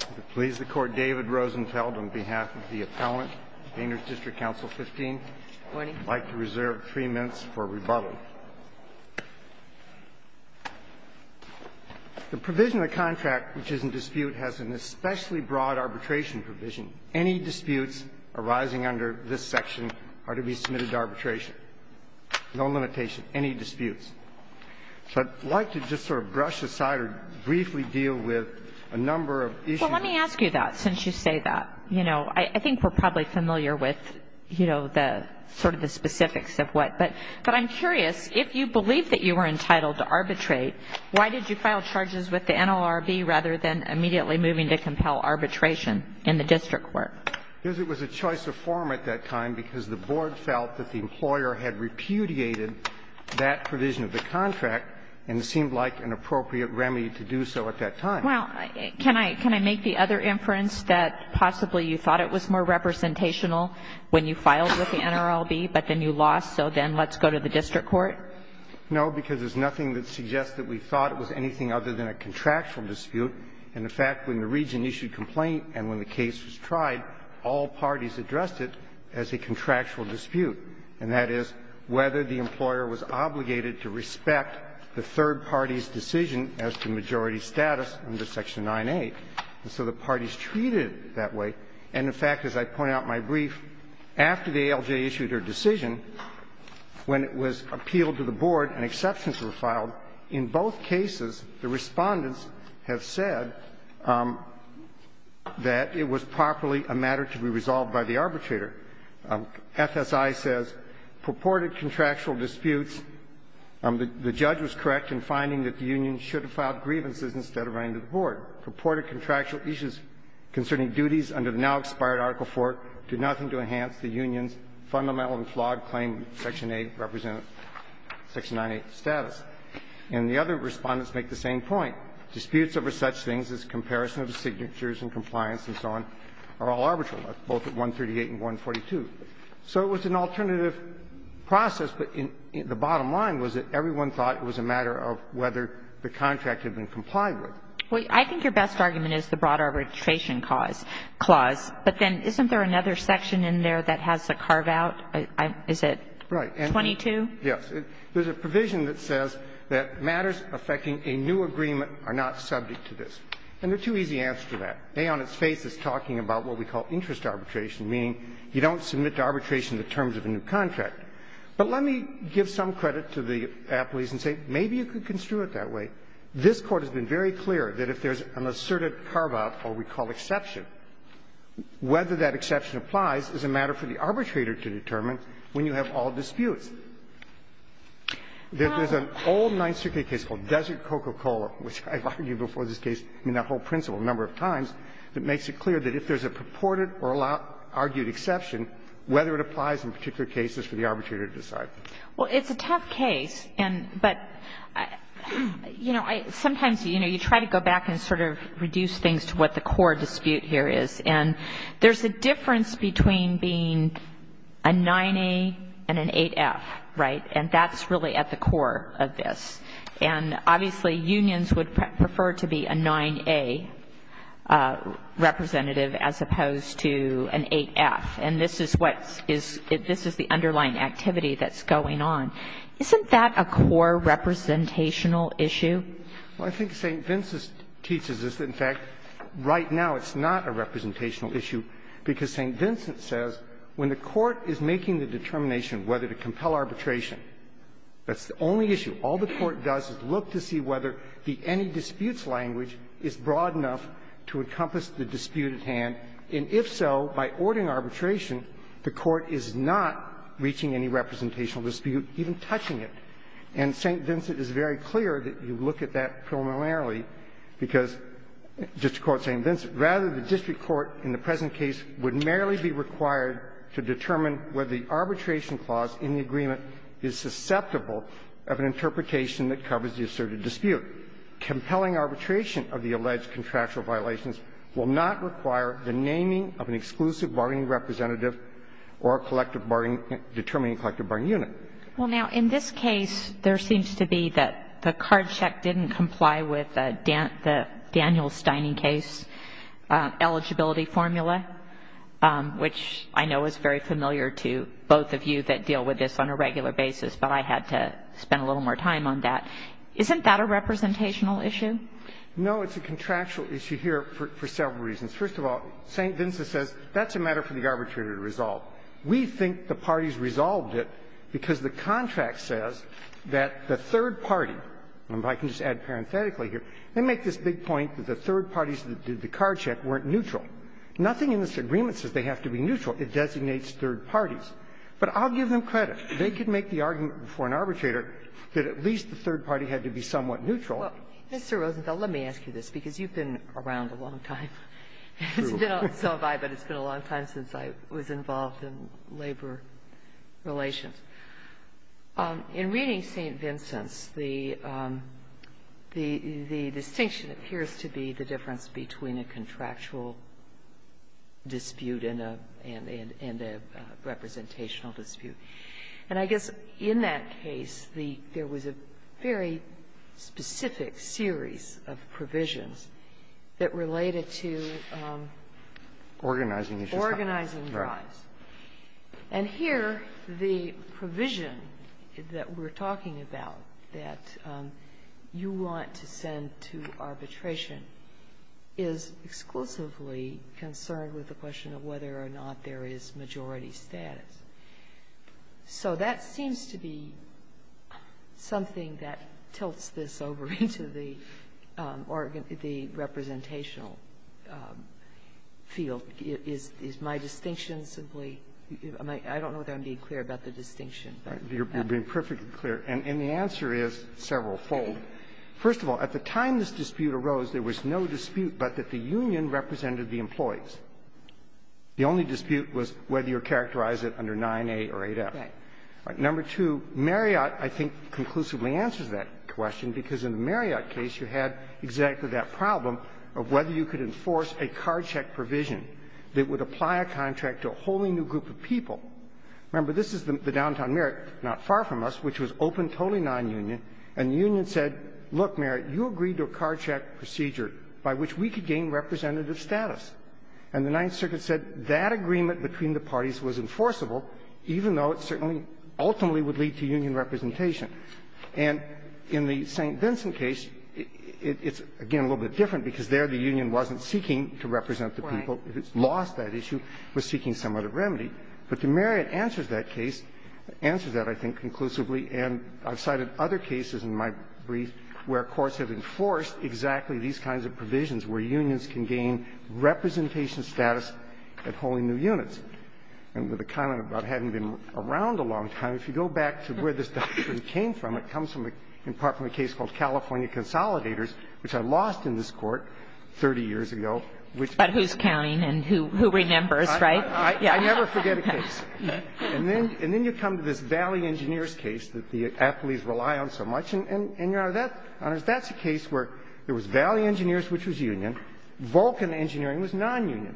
I would please the Court, David Rosenfeld, on behalf of the appellant, Painters District Council 15, I would like to reserve three minutes for rebuttal. The provision of the contract which is in dispute has an especially broad arbitration provision. Any disputes arising under this section are to be submitted to arbitration. No limitation, any disputes. So I'd like to just sort of brush aside or briefly deal with a number of issues. Well, let me ask you that since you say that. You know, I think we're probably familiar with, you know, sort of the specifics of what. But I'm curious, if you believe that you were entitled to arbitrate, why did you file charges with the NLRB rather than immediately moving to compel arbitration in the district court? Because it was a choice of form at that time because the board felt that the employer had repudiated that provision of the contract, and it seemed like an appropriate remedy to do so at that time. Well, can I make the other inference that possibly you thought it was more representational when you filed with the NLRB, but then you lost, so then let's go to the district court? No, because there's nothing that suggests that we thought it was anything other than a contractual dispute. And, in fact, when the region issued complaint and when the case was tried, all parties addressed it as a contractual dispute, and that is whether the employer was obligated to respect the third party's decision as to majority status under Section 9A. And so the parties treated it that way. And, in fact, as I point out in my brief, after the ALJ issued her decision, when it was appealed to the board and exceptions were filed, in both cases the Respondents have said that it was properly a matter to be resolved by the arbitrator. FSI says, purported contractual disputes. The judge was correct in finding that the union should have filed grievances instead of running to the board. Purported contractual issues concerning duties under the now-expired Article IV do nothing to enhance the union's fundamental and flawed claim Section 8 represents Section 9A status. And the other Respondents make the same point. Disputes over such things as comparison of signatures and compliance and so on are all arbitral, both at 138 and 142. So it was an alternative process, but the bottom line was that everyone thought it was a matter of whether the contract had been complied with. Well, I think your best argument is the broad arbitration clause. But then isn't there another section in there that has a carve-out? Is it 22? Yes. There's a provision that says that matters affecting a new agreement are not subject to this. And there are two easy answers to that. A on its face is talking about what we call interest arbitration, meaning you don't submit to arbitration the terms of a new contract. But let me give some credit to the appellees and say maybe you can construe it that way. This Court has been very clear that if there's an asserted carve-out, what we call exception, whether that exception applies is a matter for the arbitrator to determine when you have all disputes. There's an old Ninth Circuit case called Desert Coca-Cola, which I've argued before this case in that whole principle a number of times, that makes it clear that if there's a purported or argued exception, whether it applies in particular cases for the arbitrator to decide. Well, it's a tough case, and but, you know, sometimes, you know, you try to go back and sort of reduce things to what the core dispute here is. And there's a difference between being a 9A and an 8F, right? And that's really at the core of this. And obviously, unions would prefer to be a 9A representative as opposed to an 8F. And this is what is the underlying activity that's going on. Isn't that a core representational issue? Well, I think St. Vincent teaches us that, in fact, right now, it's not a representational issue, because St. Vincent says when the court is making the determination whether to compel arbitration, that's the only issue. All the court does is look to see whether the any disputes language is broad enough to encompass the dispute at hand. And if so, by ordering arbitration, the court is not reaching any representational dispute, even touching it. And St. Vincent is very clear that you look at that preliminarily, because, just to quote St. Vincent, Rather, the district court in the present case would merely be required to determine whether the arbitration clause in the agreement is susceptible of an interpretation that covers the asserted dispute. Compelling arbitration of the alleged contractual violations will not require the naming of an exclusive bargaining representative or a collective bargaining unit. And so, in this case, the court is not going to be able to determine a collective bargaining unit. Well, now, in this case, there seems to be that the card check didn't comply with the Daniels-Steining case eligibility formula, which I know is very familiar to both of you that deal with this on a regular basis, but I had to spend a little more time on that. Isn't that a representational issue? No, it's a contractual issue here for several reasons. First of all, St. Vincent says that's a matter for the arbitrator to resolve. We think the parties resolved it because the contract says that the third party and I can just add parenthetically here, they make this big point that the third parties that did the card check weren't neutral. Nothing in this agreement says they have to be neutral. It designates third parties. But I'll give them credit. They could make the argument before an arbitrator that at least the third party had to be somewhat neutral. Well, Mr. Rosenthal, let me ask you this, because you've been around a long time. It's been a while, but it's been a long time since I was involved in labor relations. In reading St. Vincent's, the distinction appears to be the difference between a contractual dispute and a representational dispute. And I guess in that case, the – there was a very specific series of provisions that related to organizing the drives. Organizing the drives. And here, the provision that we're talking about that you want to send to arbitration is exclusively concerned with the question of whether or not there is majority status. So that seems to be something that tilts this over into the – or the representational field. Is my distinction simply – I don't know if I'm being clear about the distinction. You're being perfectly clear. And the answer is severalfold. First of all, at the time this dispute arose, there was no dispute but that the union represented the employees. The only dispute was whether you characterized it under 9a or 8f. Right. Number two, Marriott, I think, conclusively answers that question because in the Marriott case, you had exactly that problem of whether you could enforce a card check provision that would apply a contract to a wholly new group of people. Remember, this is the downtown Marriott, not far from us, which was open, totally nonunion, and the union said, look, Marriott, you agreed to a card check procedure by which we could gain representative status. And the Ninth Circuit said that agreement between the parties was enforceable, even though it certainly ultimately would lead to union representation. And in the St. Vincent case, it's, again, a little bit different because there the union wasn't seeking to represent the people. Right. It lost that issue. It was seeking some other remedy. But the Marriott answers that case – answers that, I think, conclusively. And I've cited other cases in my brief where courts have enforced exactly these kinds of provisions where unions can gain representation status at wholly new units. And the comment about having been around a long time, if you go back to where this doctrine came from, it comes in part from a case called California Consolidators, which I lost in this Court 30 years ago, which – But who's counting and who remembers, right? I never forget a case. And then you come to this Valley Engineers case that the athletes rely on so much. And, Your Honor, that's a case where there was Valley Engineers, which was union. Vulcan Engineering was nonunion.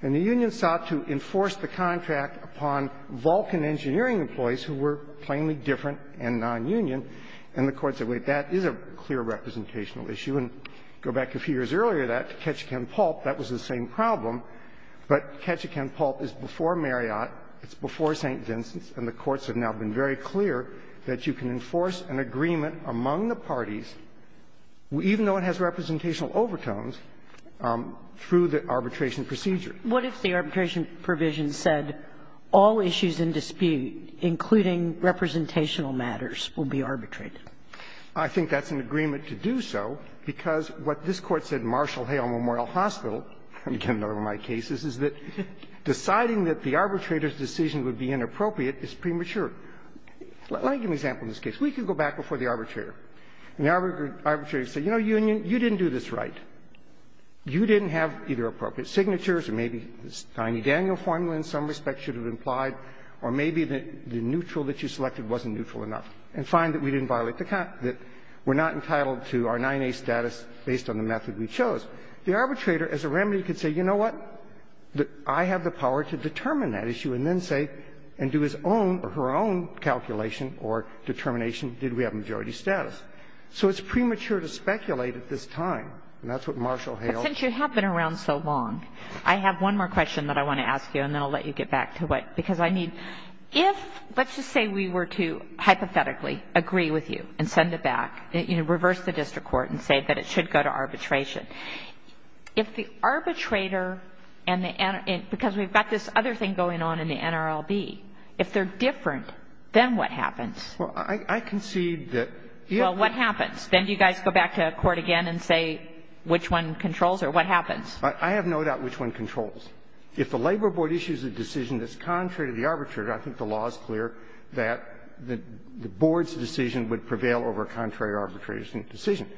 And the union sought to enforce the contract upon Vulcan Engineering employees who were plainly different and nonunion. And the courts said, wait, that is a clear representational issue. And go back a few years earlier to that, to Ketchikan-Pulp, that was the same problem. But Ketchikan-Pulp is before Marriott. It's before St. Vincent's. And the courts have now been very clear that you can enforce an agreement among the parties, even though it has representational overtones, through the arbitration procedure. What if the arbitration provision said all issues in dispute, including representational matters, will be arbitrated? I think that's an agreement to do so, because what this Court said in Marshall Hale Memorial Hospital, again, another one of my cases, is that deciding that the argument is premature. Let me give you an example in this case. We could go back before the arbitrator. And the arbitrator would say, you know, union, you didn't do this right. You didn't have either appropriate signatures, or maybe this tiny Daniel formula in some respect should have been applied, or maybe the neutral that you selected wasn't neutral enough. And fine, that we didn't violate the contract, that we're not entitled to our 9A status based on the method we chose. The arbitrator, as a remedy, could say, you know what, I have the power to determine that issue, and then say, and do his own or her own calculation or determination, did we have majority status. So it's premature to speculate at this time. And that's what Marshall Hale's lawyer said. But since you have been around so long, I have one more question that I want to ask you, and then I'll let you get back to what you said. Because I mean, if, let's just say we were to, hypothetically, agree with you and send it back, you know, reverse the district court and say that it should go to arbitration. If the arbitrator and the NRB, because we've got this other thing going on in the NRLB, if they're different, then what happens? Well, I concede that you have to go back to court again and say which one controls or what happens. I have no doubt which one controls. If the labor board issues a decision that's contrary to the arbitrator, I think the law is clear that the board's decision would prevail over a contrary arbitration decision.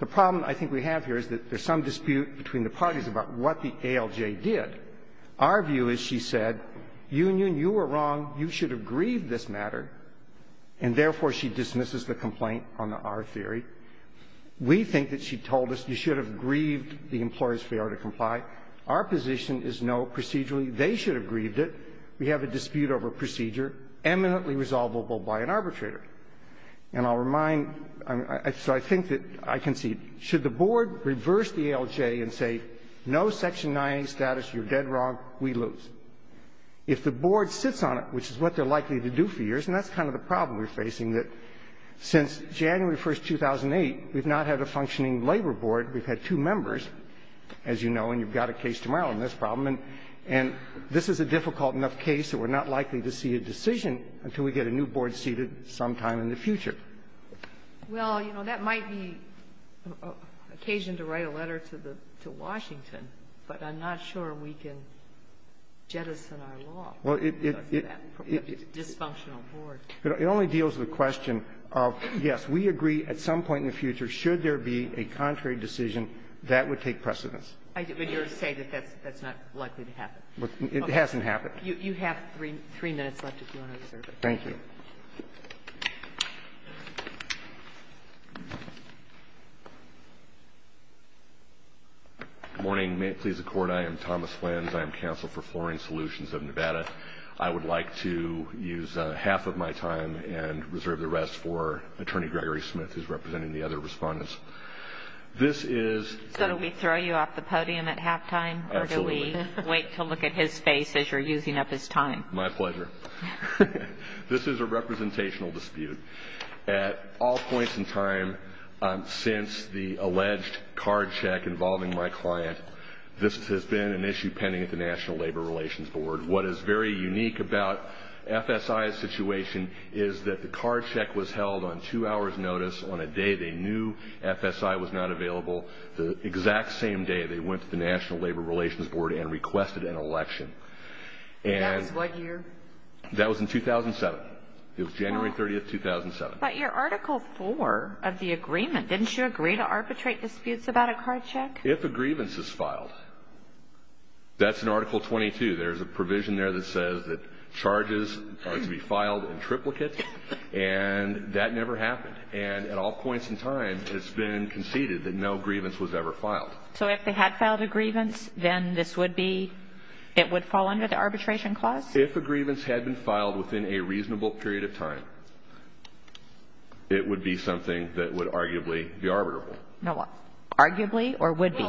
The problem I think we have here is that there's some dispute between the parties about what the ALJ did. Our view is, she said, Union, you were wrong. You should have grieved this matter, and therefore she dismisses the complaint on the R theory. We think that she told us you should have grieved the employer's failure to comply. Our position is no, procedurally, they should have grieved it. We have a dispute over procedure eminently resolvable by an arbitrator. And I'll remind you, so I think that I concede, should the board reverse the ALJ and say, no, Section 9A status, you're dead wrong, we lose. If the board sits on it, which is what they're likely to do for years, and that's kind of the problem we're facing, that since January 1, 2008, we've not had a functioning labor board. We've had two members, as you know, and you've got a case tomorrow on this problem. And this is a difficult enough case that we're not likely to see a decision until we get a new board seated sometime in the future. Well, you know, that might be occasion to write a letter to the to Washington, but I'm not sure we can jettison our law because of that dysfunctional board. It only deals with the question of, yes, we agree at some point in the future, should there be a contrary decision, that would take precedence. But you're saying that that's not likely to happen. It hasn't happened. You have three minutes left if you want to observe it. Thank you. Morning. May it please the court, I am Thomas Lenz. I am counsel for Flooring Solutions of Nevada. I would like to use half of my time and reserve the rest for Attorney Gregory Smith, who's representing the other respondents. This is- So do we throw you off the podium at halftime, or do we wait to look at his face as you're using up his time? My pleasure. This is a representational dispute. At all points in time since the alleged card check involving my client, this has been an issue pending at the National Labor Relations Board. What is very unique about FSI's situation is that the card check was held on two hours' notice on a day they knew FSI was not available, the exact same day they went to the National Labor Relations Board and requested an election. That was what year? That was in 2007. It was January 30th, 2007. But your Article 4 of the agreement, didn't you agree to arbitrate disputes about a card check? If a grievance is filed, that's in Article 22. There's a provision there that says that charges are to be filed in triplicate, and that never happened. And at all points in time, it's been conceded that no grievance was ever filed. So if they had filed a grievance, then this would be, it would fall under the arbitration clause? If a grievance had been filed within a reasonable period of time, it would be something that would arguably be arbitrable. Now what? Arguably or would be?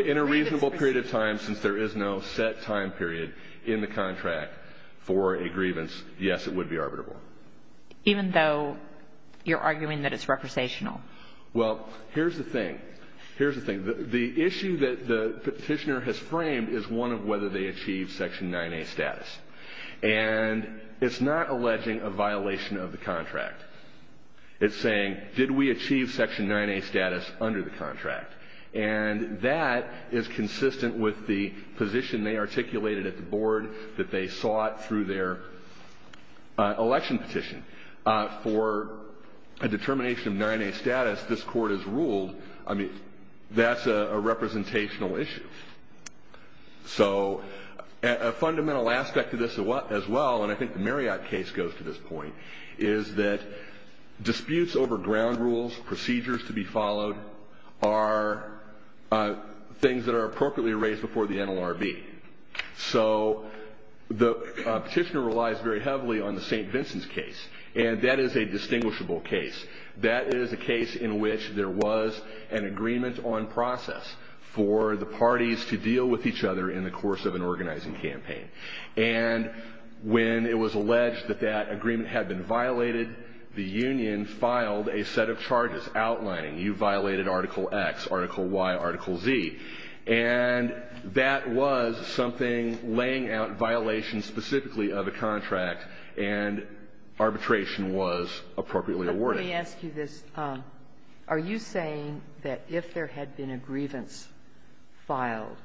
In a reasonable period of time, since there is no set time period in the contract for a grievance, yes, it would be arbitrable. Even though you're arguing that it's representational? Well, here's the thing. Here's the thing. The issue that the petitioner has framed is one of whether they achieved Section 9A status. And it's not alleging a violation of the contract. It's saying, did we achieve Section 9A status under the contract? And that is consistent with the position they articulated at the board that they sought through their election petition. For a determination of 9A status, this court has ruled, I mean, that's a representational issue. So a fundamental aspect of this as well, and I think the Marriott case goes to this point, is that disputes over ground rules, procedures to be followed, are things that are appropriately raised before the NLRB. So the petitioner relies very heavily on the St. Vincent's case. And that is a distinguishable case. That is a case in which there was an agreement on process for the parties to deal with each other in the course of an organizing campaign. And when it was alleged that that agreement had been violated, the union filed a set of charges outlining you violated Article X, Article Y, Article Z. And that was something laying out violations specifically of a contract, and arbitration was appropriately awarded. But let me ask you this. Are you saying that if there had been a grievance filed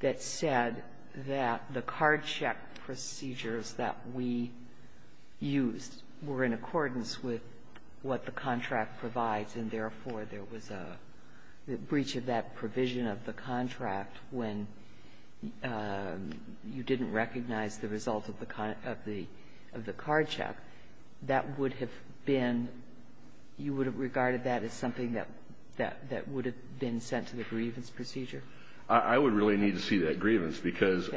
that said that the card check procedures that we used were in accordance with what the contract provides, and therefore, there was a breach of that provision of the contract when you didn't recognize the result of the card check, that would have been you would have regarded that as something that would have been sent to the grievance procedure? I would really need to see that grievance, because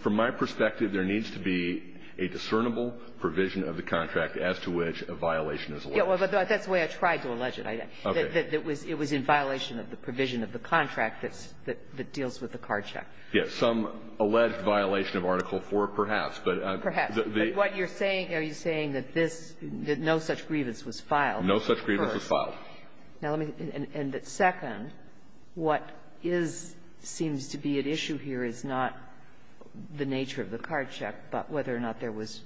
from my perspective, there needs to be a discernible provision of the contract as to which a violation is alleged. But that's the way I tried to allege it. It was in violation of the provision of the contract that deals with the card check. Yes. Some alleged violation of Article IV, perhaps. Perhaps. But what you're saying, are you saying that this, that no such grievance was filed? No such grievance was filed. Now, let me, and second, what is, seems to be at issue here is not the nature of the card check, but whether or not there was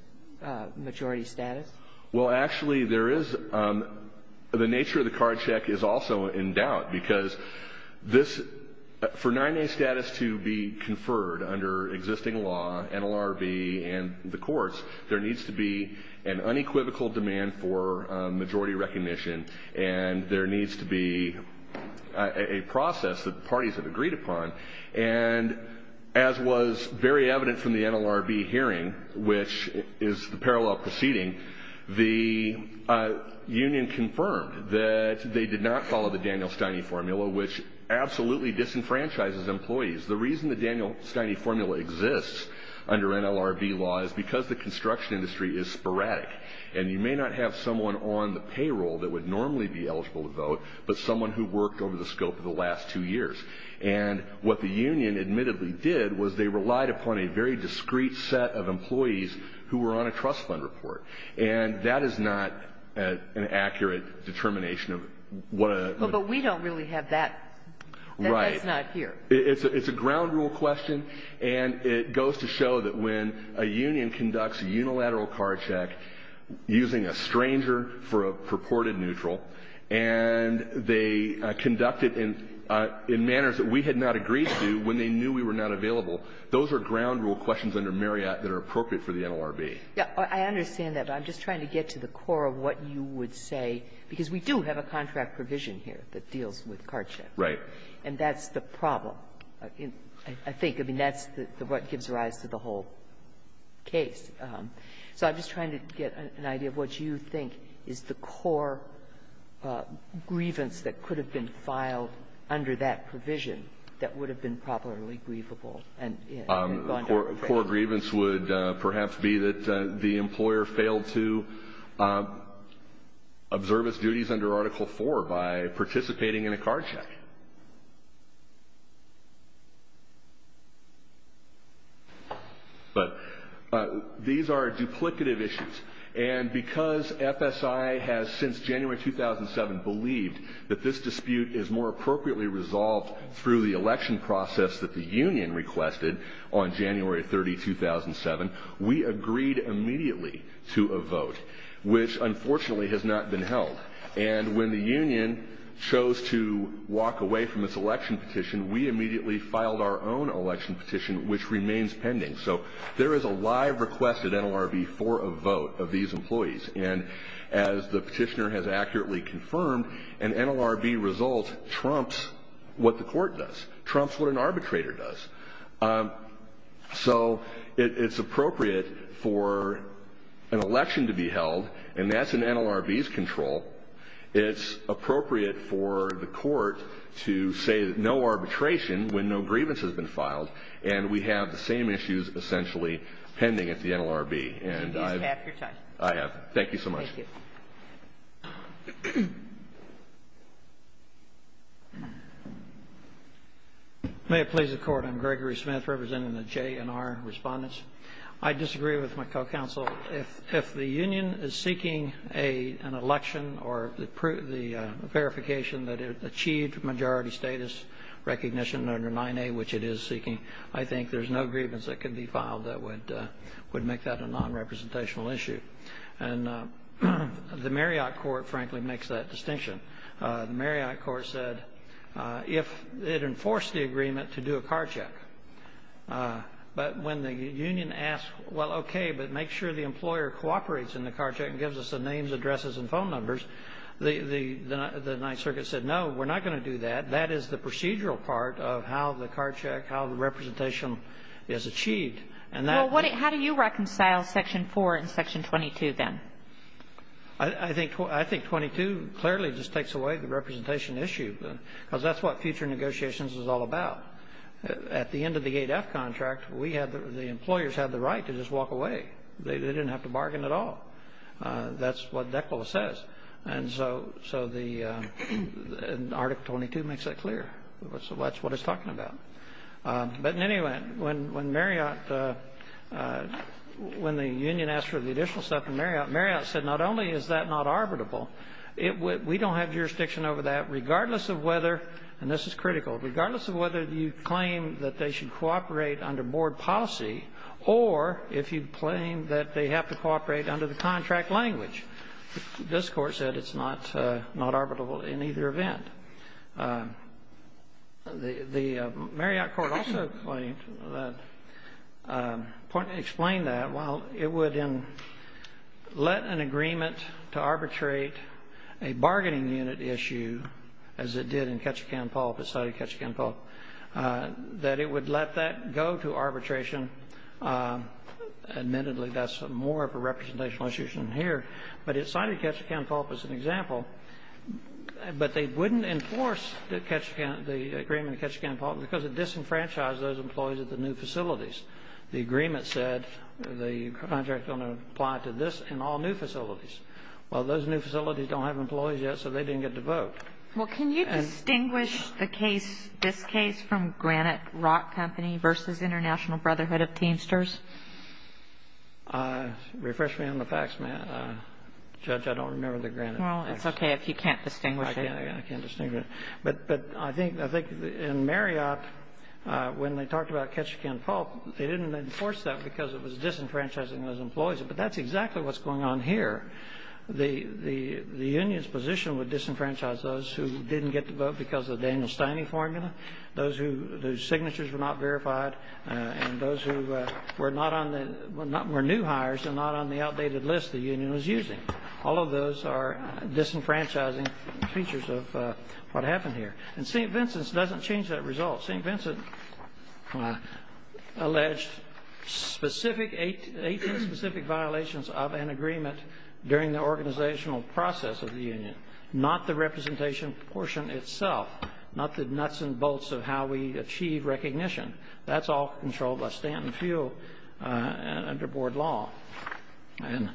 majority status? Well, actually, there is, the nature of the card check is also in doubt, because this, for 9A status to be conferred under existing law, NLRB, and the courts, there needs to be an unequivocal demand for majority recognition, and there needs to be a process that the parties have agreed upon, and as was very evident from the union confirmed that they did not follow the Daniel Steine formula, which absolutely disenfranchises employees. The reason the Daniel Steine formula exists under NLRB law is because the construction industry is sporadic, and you may not have someone on the payroll that would normally be eligible to vote, but someone who worked over the scope of the last two years. And what the union admittedly did was they relied upon a very discrete set of employees who were on a trust fund report. And that is not an accurate determination of what a... Well, but we don't really have that, that's not here. It's a ground rule question, and it goes to show that when a union conducts a unilateral card check using a stranger for a purported neutral, and they conducted in manners that we had not agreed to when they knew we were not available, those are ground rule questions under Marriott that are appropriate for the NLRB. I understand that, but I'm just trying to get to the core of what you would say. Because we do have a contract provision here that deals with card checks. Right. And that's the problem, I think. I mean, that's what gives rise to the whole case. So I'm just trying to get an idea of what you think is the core grievance that could have been filed under that provision that would have been properly grievable and gone to court. Core grievance would perhaps be that the employer failed to observe its duties under Article 4 by participating in a card check. But these are duplicative issues. And because FSI has, since January 2007, believed that this dispute is more appropriately resolved through the election process that the union requested on January 30, 2007, we agreed immediately to a vote, which unfortunately has not been held. And when the union chose to walk away from its election petition, we immediately filed our own election petition, which remains pending. So there is a live request at NLRB for a vote of these employees. And as the petitioner has accurately confirmed, an NLRB result trumps what the court does, trumps what an arbitrator does. So it's appropriate for an election to be held, and that's in NLRB's control. It's appropriate for the court to say no arbitration when no grievance has been filed, and we have the same issues essentially pending at the NLRB. And I've... You've used half your time. I have. Thank you. May it please the Court. I'm Gregory Smith, representing the JNR respondents. I disagree with my co-counsel. If the union is seeking an election or the verification that it achieved majority status recognition under 9A, which it is seeking, I think there's no grievance that could be filed that would make that a non-representational issue. And the Marriott Court, frankly, makes that distinction. The Marriott Court said if it enforced the agreement to do a card check, but when the union asked, well, okay, but make sure the employer cooperates in the card check and gives us the names, addresses, and phone numbers, the Ninth Circuit said, no, we're not going to do that. That is the procedural part of how the card check, how the representation is achieved. And that... Well, how do you reconcile Section 4 and Section 22, then? I think 22 clearly just takes away the representation issue, because that's what future negotiations is all about. At the end of the 8F contract, we had the employers had the right to just walk away. They didn't have to bargain at all. That's what DECLA says. And so the Article 22 makes that clear. That's what it's talking about. But in any event, when Marriott, when the union asked for the additional stuff from Marriott, Marriott said, not only is that not arbitrable, we don't have jurisdiction over that, regardless of whether, and this is critical, regardless of whether you claim that they should cooperate under board policy or if you claim that they have to cooperate under the contract language. This Court said it's not arbitrable in either event. The Marriott Court also explained that while it would let an agreement to arbitrate a bargaining unit issue, as it did in Ketchikan-Pulp, it cited Ketchikan-Pulp, that it would let that go to arbitration. Admittedly, that's more of a representational issue than here, but it cited Ketchikan-Pulp as an example. But they wouldn't enforce the Ketchikan, the agreement at Ketchikan-Pulp because it disenfranchised those employees at the new facilities. The agreement said the contract is going to apply to this and all new facilities. Well, those new facilities don't have employees yet, so they didn't get to vote. Well, can you distinguish the case, this case, from Granite Rock Company versus International Brotherhood of Teamsters? Refresh me on the facts, ma'am. Judge, I don't remember the Granite Rock Company. Well, it's okay if you can't distinguish it. I can't distinguish it. But I think in Marriott, when they talked about Ketchikan-Pulp, they didn't enforce that because it was disenfranchising those employees. But that's exactly what's going on here. The union's position would disenfranchise those who didn't get to vote because of the Daniel Stiney formula, those whose signatures were not verified, and those who were not on the new hires and not on the outdated list the union was using. All of those are disenfranchising features of what happened here. And St. Vincent's doesn't change that result. St. Vincent alleged 18 specific violations of an agreement during the organizational process of the union, not the representation portion itself, not the nuts and bolts of how we achieve recognition. That's all controlled by Stanton Field under board law. And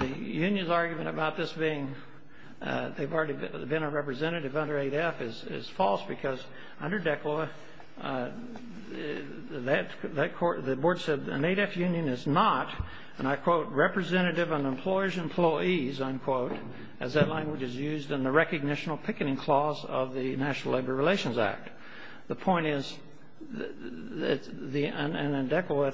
the union's argument about this being they've already been a representative under 8F is false because under DECLAW, the board said an 8F union is not, and I quote, representative of an employer's employees, unquote, as that language is used in the Recognition Picketing Clause of the National Labor Relations Act. The point is, and DECLAW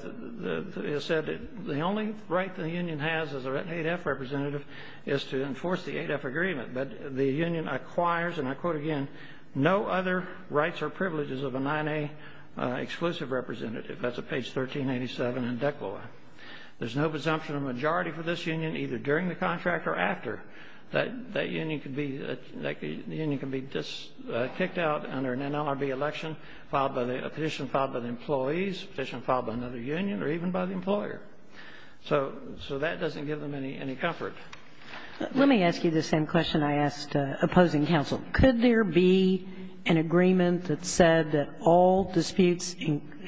has said, the only right the union has as an 8F representative is to enforce the 8F agreement, but the union acquires, and I quote again, no other rights or privileges of a 9A exclusive representative. That's at page 1387 in DECLAW. There's no presumption of majority for this union either during the contract or after. That union could be kicked out under an NLRB election, a petition filed by the employees, a petition filed by another union, or even by the employer. So that doesn't give them any comfort. Let me ask you the same question I asked opposing counsel. Could there be an agreement that said that all disputes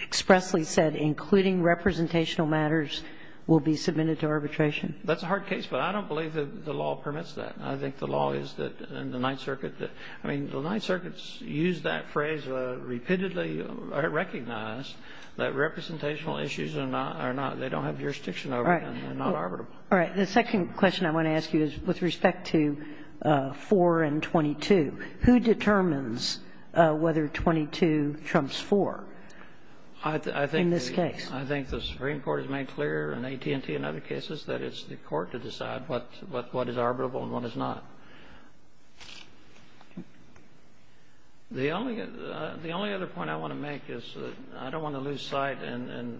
expressly said, including representational matters, will be submitted to arbitration? That's a hard case, but I don't believe that the law permits that. I think the law is that in the Ninth Circuit, I mean, the Ninth Circuit's used that phrase repeatedly recognized that representational issues are not, they don't have jurisdiction over them, they're not arbitrable. All right. The second question I want to ask you is with respect to 4 and 22. Who determines whether 22 trumps 4 in this case? I think the Supreme Court has made clear, and AT&T and other cases, that it's the court to decide what is arbitrable and what is not. The only other point I want to make is I don't want to lose sight, and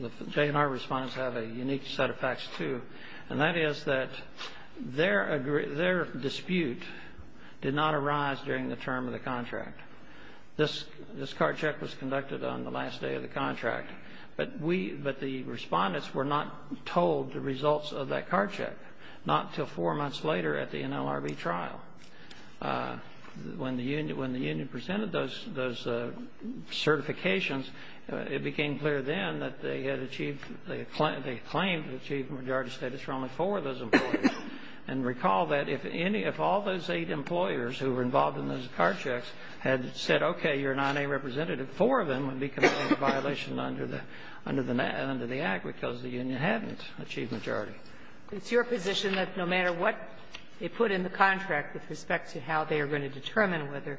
the JNR respondents have a unique set of facts, too, and that is that their dispute did not arise during the term of the contract. This card check was conducted on the last day of the contract, but the respondents were not told the results of that card check, not until four months later at the NLRB trial. When the union presented those certifications, it became clear then that they had claimed to achieve majority status for only four of those employers, and recall that if any of all those eight employers who were involved in those card checks had said, okay, you're not a representative, four of them would be considered a violation under the Act because the union hadn't achieved majority. It's your position that no matter what they put in the contract with respect to how they are going to determine whether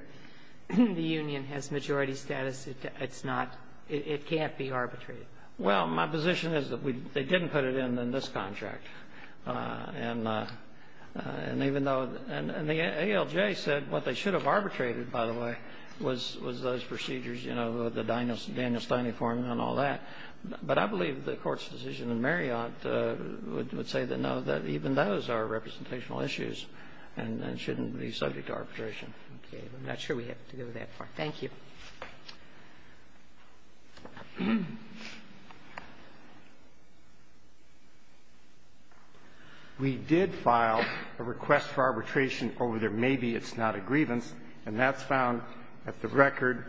the union has majority status, it's not – it can't be arbitrated? Well, my position is that they didn't put it in in this contract. And even though – and the ALJ said what they should have arbitrated, by the way, was those procedures, you know, the Daniel Stiney formula and all that. But I believe the Court's decision in Marriott would say that, no, that even those are representational issues and shouldn't be subject to arbitration. Okay. I'm not sure we have to go to that part. Thank you. We did file a request for arbitration over there. Maybe it's not a grievance, and that's found at the record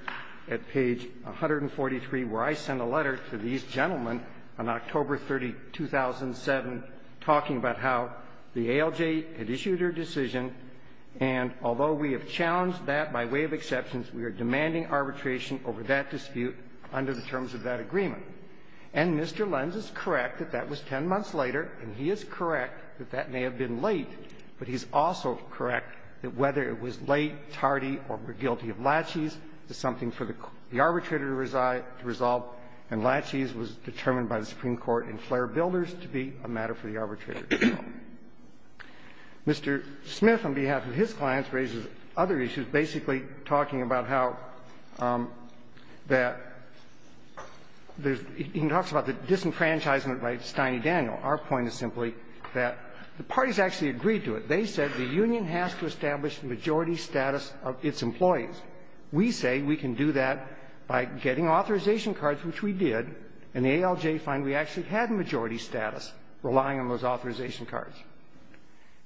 at page 143, where I sent a letter to these gentlemen on October 30, 2007, talking about how the ALJ had issued their decision, and although we have challenged that by way of exceptions, we are demanding arbitration over that dispute under the terms of that agreement. And Mr. Lenz is correct that that was 10 months later, and he is correct that that may have been late, but he's also correct that whether it was late, tardy, or we're guilty of laches is something for the arbitrator to resolve, and laches was determined by the Supreme Court in Flair Builders to be a matter for the arbitrator to solve. And Mr. Smith, on behalf of his clients, raises other issues, basically talking about how that there's he talks about the disenfranchisement by Steiney Daniel. Our point is simply that the parties actually agreed to it. They said the union has to establish the majority status of its employees. We say we can do that by getting authorization cards, which we did, and the ALJ find we actually had majority status relying on those authorization cards.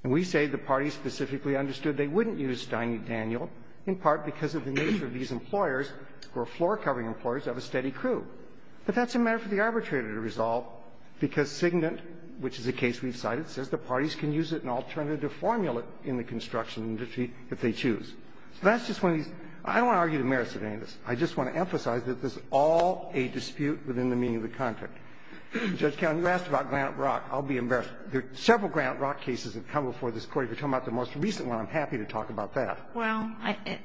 And we say the parties specifically understood they wouldn't use Steiney Daniel in part because of the nature of these employers who are floor-covering employers of a steady crew, but that's a matter for the arbitrator to resolve because Signet, which is a case we've cited, says the parties can use it in alternative formula in the construction industry if they choose. So that's just one of these. I don't want to argue the merits of any of this. I just want to emphasize that this is all a dispute within the meaning of the contract. Judge Kagan, you asked about Granite Rock. I'll be embarrassed. There are several Granite Rock cases that have come before this Court. If you're talking about the most recent one, I'm happy to talk about that. Well,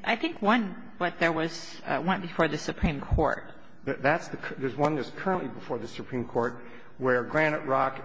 I think one, but there was one before the Supreme Court. That's the one that's currently before the Supreme Court where Granite Rock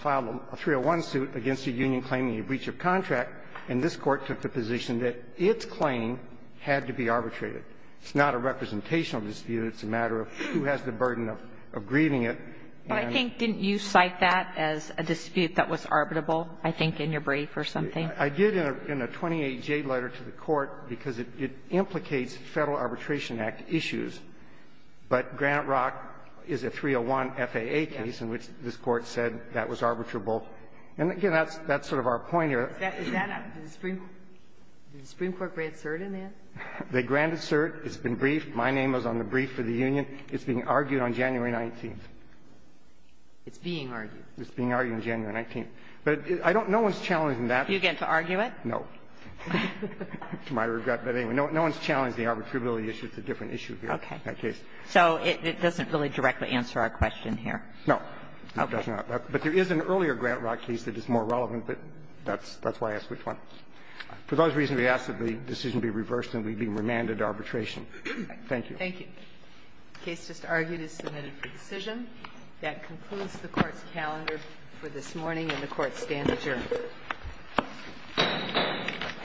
filed a 301 suit against the union claiming a breach of contract, and this Court took the position that its claim had to be arbitrated. It's not a representational dispute. It's a matter of who has the burden of grieving it. But I think, didn't you cite that as a dispute that was arbitrable, I think, in your brief or something? I did in a 28J letter to the Court because it implicates Federal Arbitration Act issues, but Granite Rock is a 301 FAA case in which this Court said that was arbitrable. And, again, that's sort of our point here. Is that a – did the Supreme Court grant cert in that? They granted cert. It's been briefed. My name was on the brief for the union. It's being argued on January 19th. It's being argued. It's being argued on January 19th. But I don't – no one's challenging that. Do you get to argue it? No. To my regret. But, anyway, no one's challenged the arbitrability issue. It's a different issue here. Okay. So it doesn't really directly answer our question here. No. Okay. It does not. But there is an earlier Granite Rock case that is more relevant, but that's why I asked which one. For those reasons, we ask that the decision be reversed and we be remanded to arbitration. Thank you. Thank you. The case just argued is submitted for decision. That concludes the Court's calendar for this morning, and the Court stands adjourned.